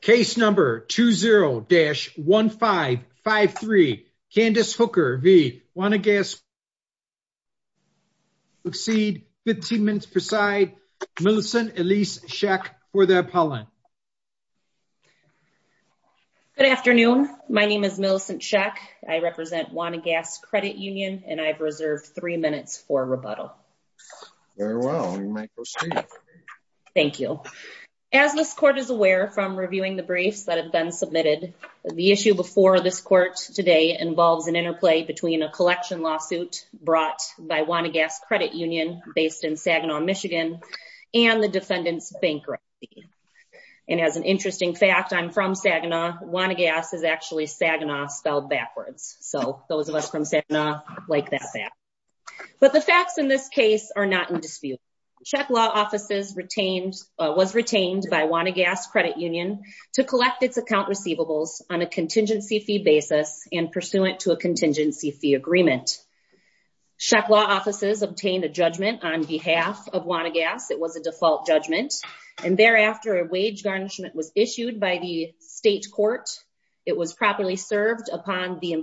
Case number 20-1553. Candice Hooker v. Wanigas Credit Union. We'll proceed 15 minutes per side. Millicent Elise Schech for the appellant. Good afternoon. My name is Millicent Schech. I represent Wanigas Credit Union, and I've reserved three minutes for rebuttal. Very well, you may proceed. Thank you. As this court is aware from reviewing the briefs that have been submitted, the issue before this court today involves an interplay between a collection lawsuit brought by Wanigas Credit Union based in Saginaw, Michigan, and the defendant's bankruptcy. And as an interesting fact, I'm from Saginaw. Wanigas is actually Saginaw spelled backwards. So those of us from Saginaw like that back. But the facts in this case are not in dispute. Schech Law Offices was retained by Wanigas Credit Union to collect its account receivables on a contingency fee basis and pursuant to a contingency fee agreement. Schech Law Offices obtained a judgment on behalf of Wanigas. It was a default judgment. And thereafter, a wage garnishment was issued by the state court. It was properly served upon the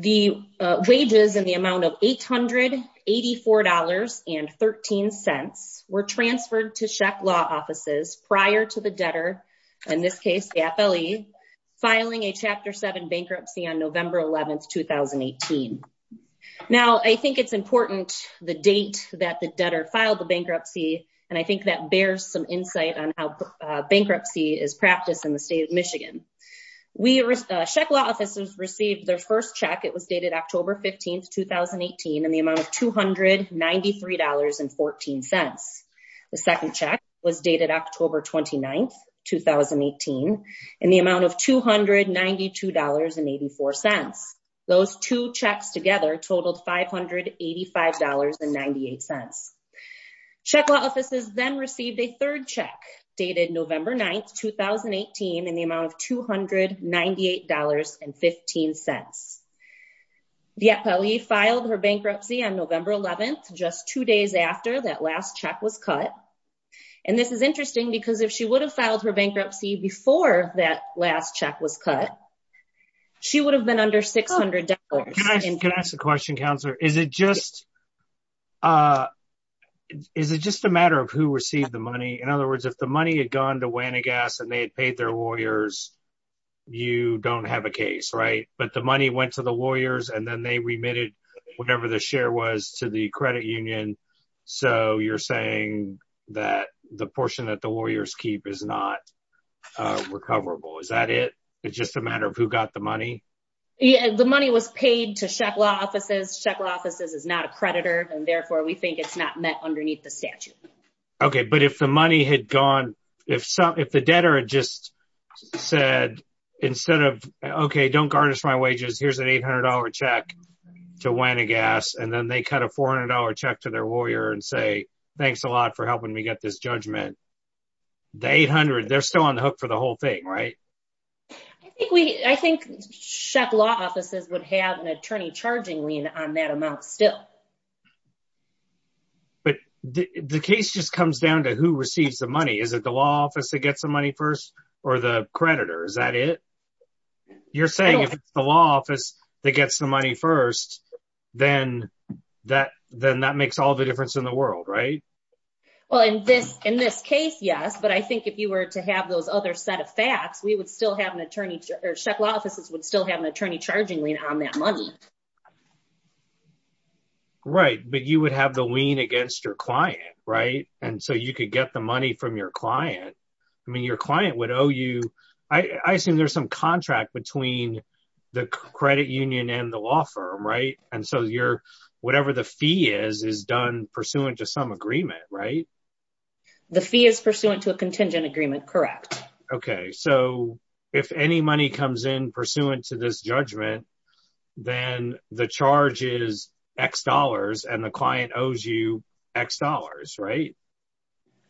wages in the amount of $884.13 were transferred to Schech Law Offices prior to the debtor, in this case, the FLE, filing a Chapter 7 bankruptcy on November 11, 2018. Now, I think it's important the date that the debtor filed the bankruptcy. And I think that bears some insight on how bankruptcy is practiced in the state of Michigan. We, Schech Law Offices received their first check. It was dated October 15, 2018, in the amount of $293.14. The second check was dated October 29, 2018, in the amount of $292.84. Those two checks together totaled $585.98. Schech Law Offices then received a third check, dated November 9, 2018, in the amount of $298.15. The FLE filed her bankruptcy on November 11, just two days after that last check was cut. And this is interesting because if she would have filed her bankruptcy before that last check was cut, she would have been under $600. Can I ask a question, Counselor? Is it just is it just a matter of who received the money? In other words, if the money had gone to Wannegas and they had paid their lawyers, you don't have a case, right? But the money went to the lawyers and then they remitted whatever the share was to the credit union. So you're saying that the portion that the lawyers keep is not recoverable. Is that it? It's just a matter of who got the money? Yeah, the money was paid to Schech Law Offices. Schech Law Offices is not a creditor, and therefore we think it's not met underneath the statute. Okay, but if the money had gone, if the debtor had just said, instead of, okay, don't garnish my wages, here's an $800 check to Wannegas, and then they cut a $400 check to their lawyer and say, thanks a lot for helping me get this judgment. The $800, they're still on the hook for the whole thing, right? I think Schech Law Offices would have an attorney charging lien on that amount still. But the case just comes down to who receives the money. Is it the law office that gets the money first or the creditor? Is that it? You're saying if it's the law office that gets the money first, then that makes all the difference in the world, right? Well, in this case, yes, but I think if you were to have those other set of facts, we would still have an attorney, or Schech Law Offices would still have an attorney charging lien on that money. Right, but you would have the lien against your client, right? And so you could get the money from your client. I mean, your client would owe you, I assume there's some contract between the credit union and the law firm, right? And so whatever the fee is, is done pursuant to some agreement, right? The fee is judgment, then the charge is X dollars, and the client owes you X dollars, right?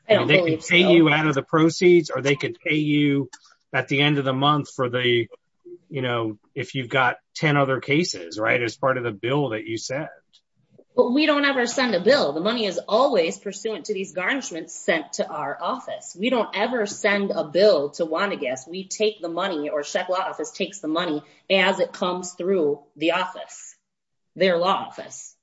They can pay you out of the proceeds, or they could pay you at the end of the month for the, you know, if you've got 10 other cases, right, as part of the bill that you said. But we don't ever send a bill. The money is always pursuant to these garnishments sent to our office. We don't ever send a bill to Wanda Guess. We take the money, or Schech Law Office takes the money as it comes through the office, their law office.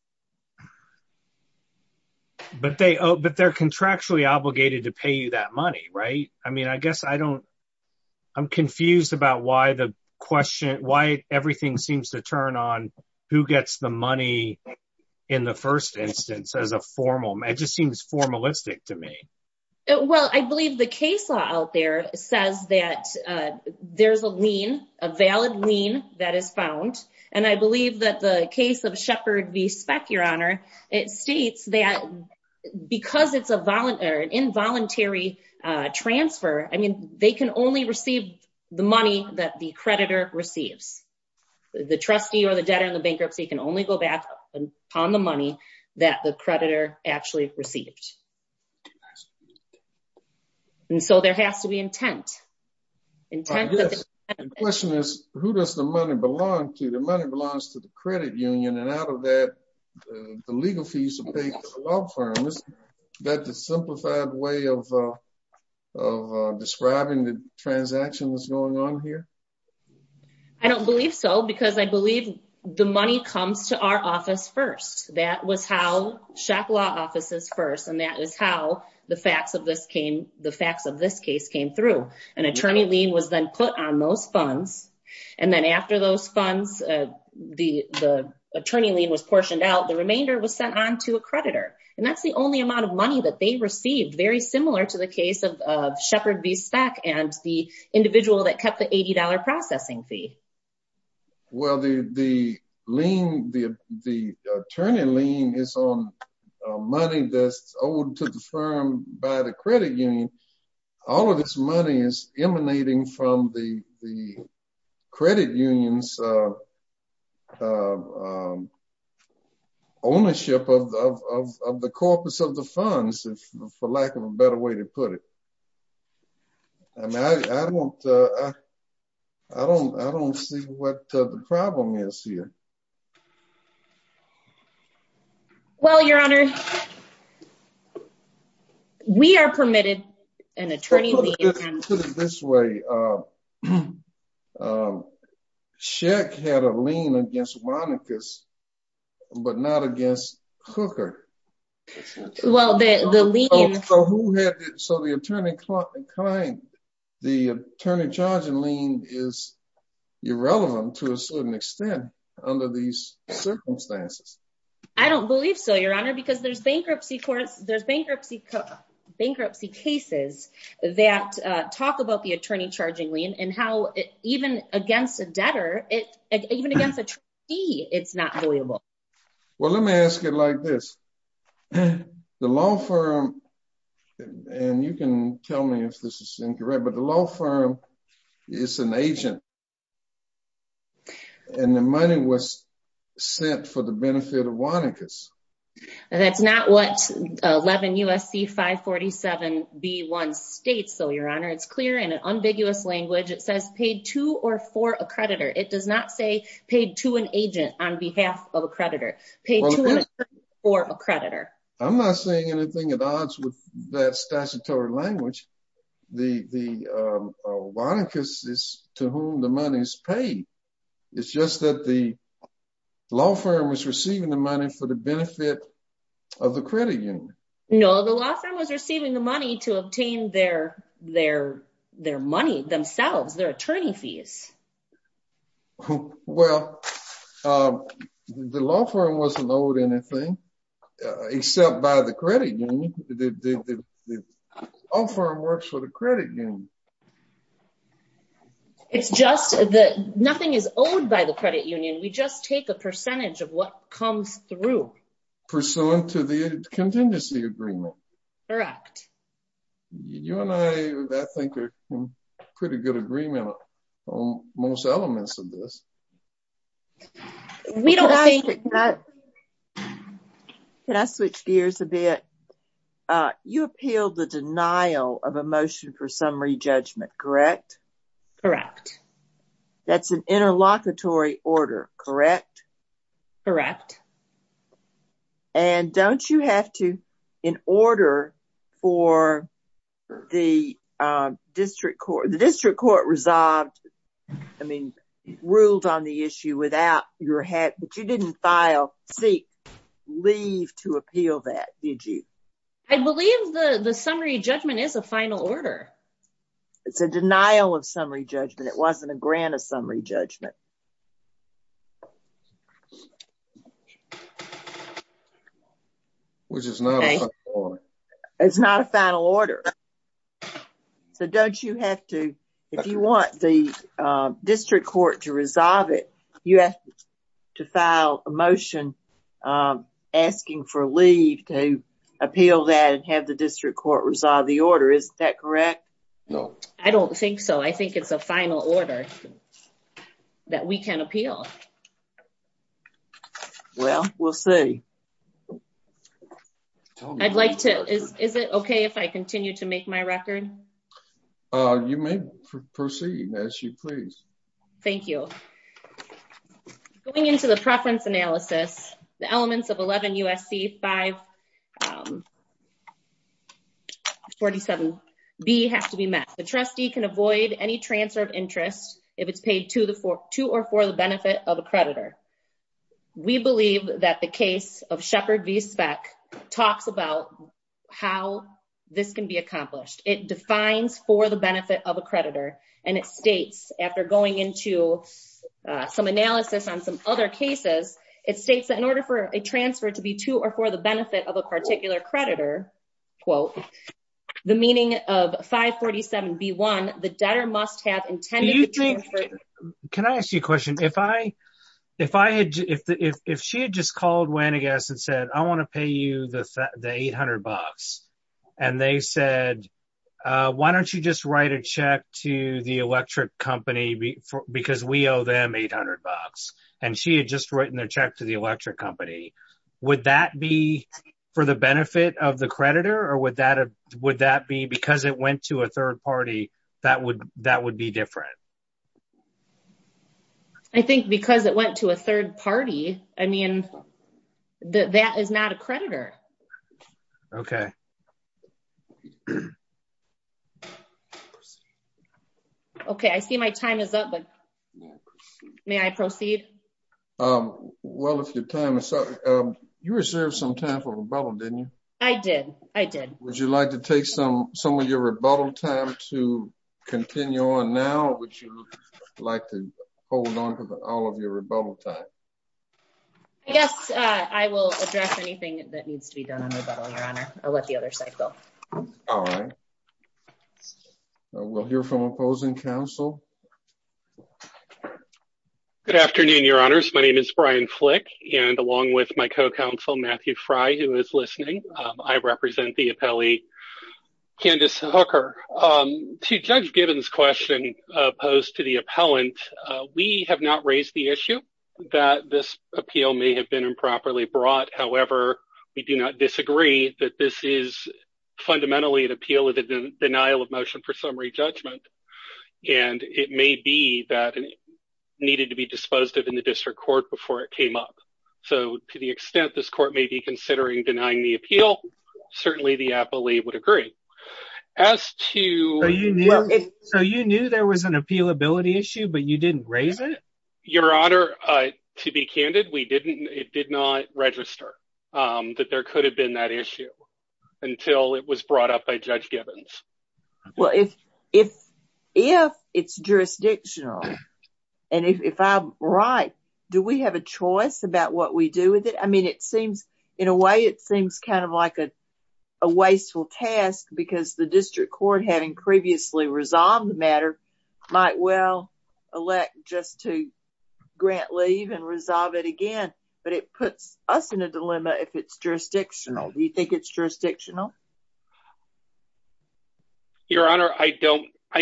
But they're contractually obligated to pay you that money, right? I mean, I guess I don't, I'm confused about why the question, why everything seems to turn on who gets the money in the first instance as a formal, it just seems formalistic to me. Well, I believe the case law out there says that there's a lien, a valid lien that is found. And I believe that the case of Sheppard v. Speck, Your Honor, it states that because it's a involuntary transfer, I mean, they can only receive the money that the creditor receives. The trustee or the debtor in the bankruptcy can only go back on the money that the creditor actually received. And so there has to be intent. Intent, yes. The question is, who does the money belong to? The money belongs to the credit union, and out of that, the legal fees are paid to the law firm. Is that the simplified way of describing the transaction that's going on here? I don't believe so, because I believe the money comes to our office first. That was how the facts of this case came through. An attorney lien was then put on those funds. And then after those funds, the attorney lien was portioned out. The remainder was sent on to a creditor. And that's the only amount of money that they received, very similar to the case of Sheppard v. Speck and the individual that kept the $80 processing fee. Well, the attorney lien is on money that's owed to the firm by the credit union. All of this money is emanating from the credit union's ownership of the corpus of the funds, for lack of a better way to put it. I mean, I don't see what the problem is here. Well, Your Honor, we are permitted an attorney lien. Well, put it this way. Sheppard had a lien against Monicus, but not against Cooker. Well, the lien... So the attorney charged in lien is irrelevant to a certain extent under these circumstances. I don't believe so, Your Honor, because there's bankruptcy courts, there's bankruptcy cases that talk about the attorney charging lien and how even against a debtor, even against a trustee, it's not liable. Well, let me ask it like this. The law firm, and you can tell me if this is incorrect, but the law firm is an agent and the money was sent for the benefit of Monicus. And that's not what 11 U.S.C. 547b1 states though, Your Honor. It's clear in an ambiguous language. It says paid to or for a creditor. It does not say paid to an agent on behalf of a creditor, paid to or for a creditor. I'm not saying anything at odds with that statutory language. The Monicus is to whom the money is paid. It's just that the law firm was receiving the money for the benefit of the credit union. No, the law firm was receiving the money to obtain their money themselves, their attorney fees. Well, the law firm wasn't owed anything except by the credit union. All firm works for the credit union. It's just that nothing is owed by the credit union. We just take a percentage of what comes through. Pursuant to the contingency agreement. Correct. You and I, I think, are in pretty good agreement on most elements of this. We don't think that. Can I switch gears a bit? You appealed the denial of a motion for summary judgment, correct? Correct. That's an interlocutory order, correct? Correct. And don't you have to, in order for the district court, the district court resolved, I mean, ruled on the issue without your head, but you didn't file, seek, leave to appeal that, did you? I believe the summary judgment is a final order. It's a denial of summary judgment. It wasn't a grant of summary judgment. Which is not a final order. It's not a final order. So don't you have to, if you want the district court to resolve it, you have to file a motion asking for leave to appeal that and have the district court resolve the order. Is that correct? No. I don't think so. I think it's a final order that we can appeal. Well, we'll see. I'd like to, is it okay if I continue to make my record? You may proceed as you please. Thank you. Going into the preference analysis, the elements of 11 U.S.C. 547B have to be met. The trustee can avoid any transfer of interest if it's paid to or for the benefit of a creditor. We believe that the case of Shepard v. Speck talks about how this can be accomplished. It defines for the benefit of a creditor. And it states, after going into some analysis on some other cases, it states that in order for a transfer to be to or for the benefit of a particular creditor, quote, the meaning of 547B1, the debtor must have intended to transfer. Can I ask you a question? If she had just called Wenegas and said, I want to pay you the $800, and they said, why don't you just write a check to the electric company because we owe them $800, and she had just written a check to the electric company, would that be for the benefit of the creditor? Or would that be because it went to a third party, that would be different? I think because it went to a third party, I mean, that is not a creditor. Okay. Okay, I see my time is up, but may I proceed? Well, if your time is up, you reserved some time for rebuttal, didn't you? I did. I did. Would you like to take some of your rebuttal time to continue on now? Hold on to all of your rebuttal time. I guess I will address anything that needs to be done on rebuttal, Your Honor. I'll let the other side go. All right. We'll hear from opposing counsel. Good afternoon, Your Honors. My name is Brian Flick, and along with my co-counsel, Matthew Fry, who is listening, I represent the appellee, Candace Hooker. To Judge Gibbons' question opposed to the appellant, we have not raised the issue that this appeal may have been improperly brought. However, we do not disagree that this is fundamentally an appeal of the denial of motion for summary judgment, and it may be that it needed to be disposed of in the district court before it came up. So to the extent this court may be considering denying the appeal, certainly the appellee would agree. As to... So you knew there was an appealability issue, but you didn't raise it? Your Honor, to be candid, we didn't. It did not register that there could have been that issue until it was brought up by Judge Gibbons. Well, if it's jurisdictional, and if I'm right, do we have a choice about what we do with it? I mean, it seems, in a way, it seems kind of like a wasteful task because the district court, having previously resolved the matter, might well elect just to grant leave and resolve it again, but it puts us in a dilemma if it's jurisdictional. Do you think it's jurisdictional? Your Honor, I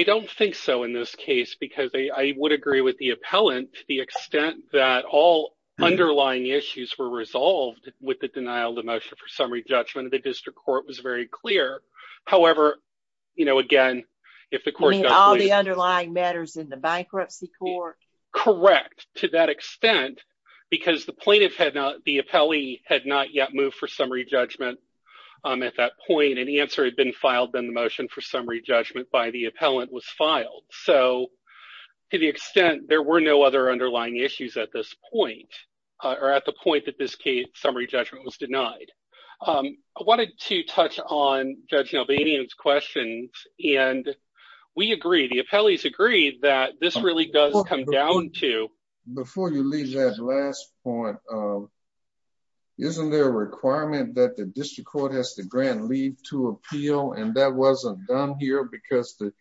don't think so in this case because I would agree with the appellant to the extent that all underlying issues were resolved with the denial of motion for summary judgment. The if the court... You mean all the underlying matters in the bankruptcy court? Correct. To that extent, because the plaintiff had not, the appellee had not yet moved for summary judgment at that point, and the answer had been filed, then the motion for summary judgment by the appellant was filed. So to the extent there were no other underlying issues at this point, I wanted to touch on Judge Nalbanian's questions, and we agree, the appellees agree, that this really does come down to... Before you leave that last point, isn't there a requirement that the district court has to grant leave to appeal, and that wasn't done here because the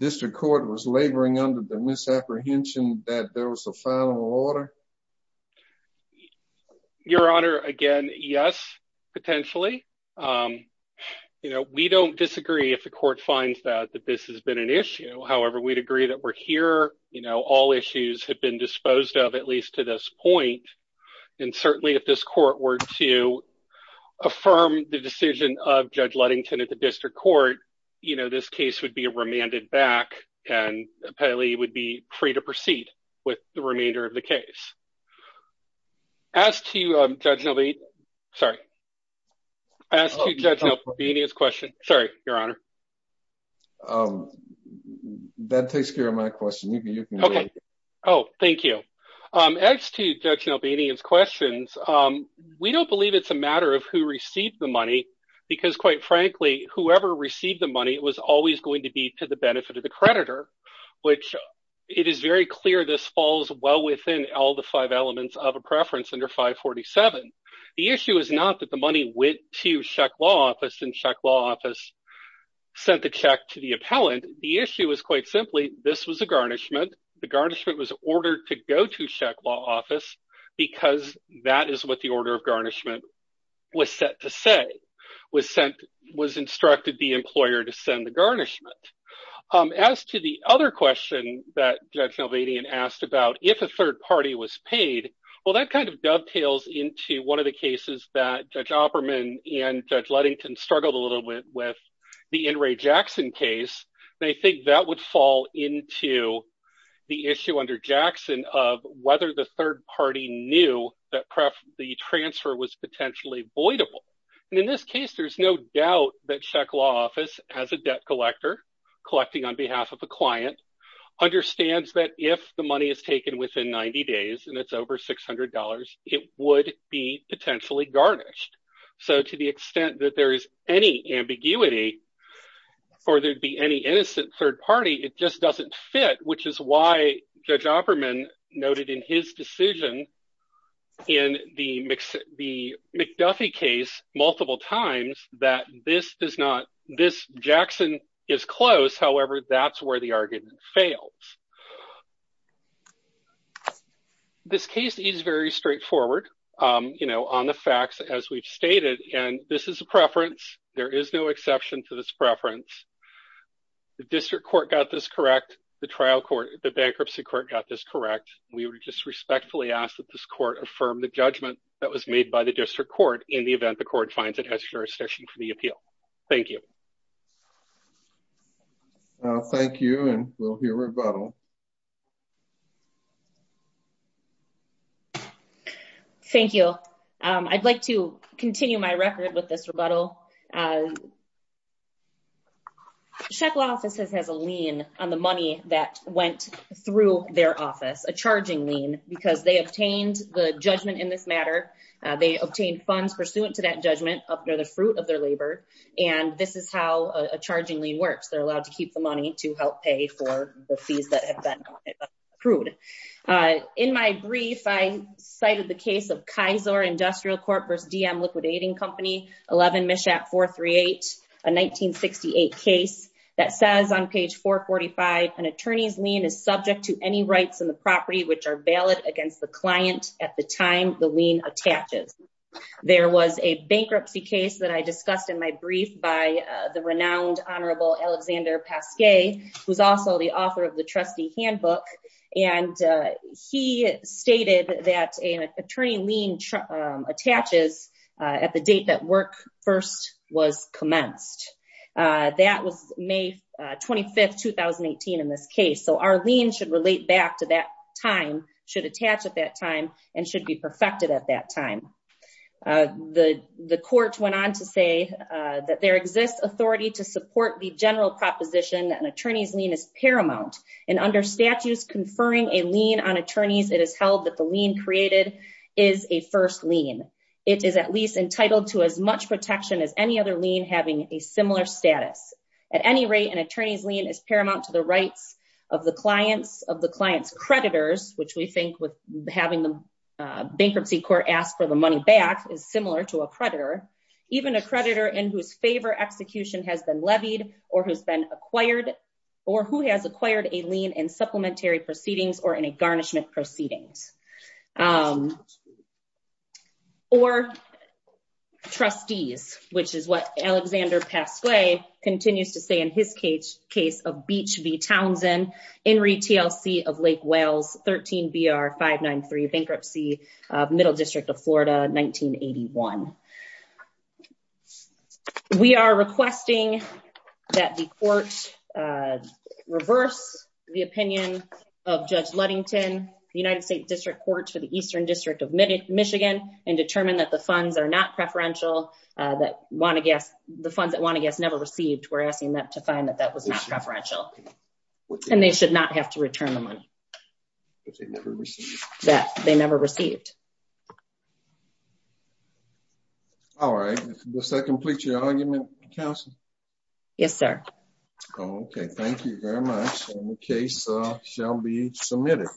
district court was laboring under the misapprehension that there was a final order? Your Honor, again, yes, potentially. We don't disagree if the court finds that this has been an issue. However, we'd agree that we're here, all issues have been disposed of at least to this point, and certainly if this court were to affirm the decision of Judge Ludington at the district court, this case would be remanded back, and appellee would be free to proceed with the case. As to Judge Nalbanian's questions, we don't believe it's a matter of who received the money, because quite frankly, whoever received the money was always going to be to the benefit of the creditor, which it is very clear this falls well within all the five elements of a preference under 547. The issue is not that the money went to Sheck Law Office, and Sheck Law Office sent the check to the appellant. The issue is quite simply, this was a garnishment. The garnishment was ordered to go to Sheck Law Office, because that is what the order of garnishment was set to say, was instructed the employer to send the garnishment. As to the other question that Judge Nalbanian asked about, if a third party was paid, well that kind of dovetails into one of the cases that Judge Opperman and Judge Ludington struggled a little bit with, the In re Jackson case. They think that would fall into the issue under Jackson of whether the third party knew that the transfer was potentially voidable. In this case, there's no doubt that Sheck Law Office, as a debt collector, collecting on behalf of a client, understands that if the money is taken within 90 days, and it's over $600, it would be potentially garnished. So to the extent that there is any ambiguity, or there'd be any innocent third party, it just doesn't fit, which is why Judge Opperman noted in his decision in the McDuffie case multiple times that this does not, this Jackson is close, however, that's where the argument fails. This case is very straightforward, you know, on the there is no exception to this preference. The district court got this correct. The trial court, the bankruptcy court got this correct. We were just respectfully asked that this court affirm the judgment that was made by the district court in the event the court finds it has jurisdiction for the appeal. Thank you. Thank you and we'll hear rebuttal. Thank you. I'd like to continue my record with this rebuttal. Sheck Law Office has a lien on the money that went through their office, a charging lien, because they obtained the judgment in this matter. They obtained funds pursuant to that judgment up near the fruit of their labor. And this is how a charging lien works. They're allowed to keep the money to help pay for the fees that have been paid. And they're not allowed to accrued. In my brief, I cited the case of Kaiser Industrial Corp versus DM Liquidating Company, 11 Mishap 438, a 1968 case that says on page 445, an attorney's lien is subject to any rights in the property which are valid against the client at the time the lien attaches. There was a bankruptcy case that I discussed in my brief by the renowned Honorable Alexander Pasquet, who's also the author of the trustee handbook. And he stated that an attorney lien attaches at the date that work first was commenced. That was May 25, 2018 in this case. So our lien should relate back to that time, should attach at that time, and should be perfected at that time. The court went on to say that there exists authority to support the general proposition that an attorney's lien is paramount. And under statutes conferring a lien on attorneys, it is held that the lien created is a first lien. It is at least entitled to as much protection as any other lien having a similar status. At any rate, an attorney's lien is paramount to the rights of the client's creditors, which we think with having the bankruptcy court ask for the money back is similar to a creditor. Even a creditor in whose favor execution has been levied or who's been acquired or who has acquired a lien in supplementary proceedings or in a garnishment proceedings. Or trustees, which is what Alexander Pasquet continues to say in his case of Beach v. Townsend, Henry TLC of Lake Wales, 13 BR-593 Bankruptcy, Middle District of Florida, 1981. We are requesting that the court reverse the opinion of Judge Ludington, the United States District Court for the Eastern District of Michigan, and determine that the funds are not preferential, that the funds that Want to Guess never received. We're asking them to find that that was not preferential, and they should not have to return the money that they never received. All right. Does that complete your argument, counsel? Yes, sir. Okay. Thank you very much. And the case shall be submitted.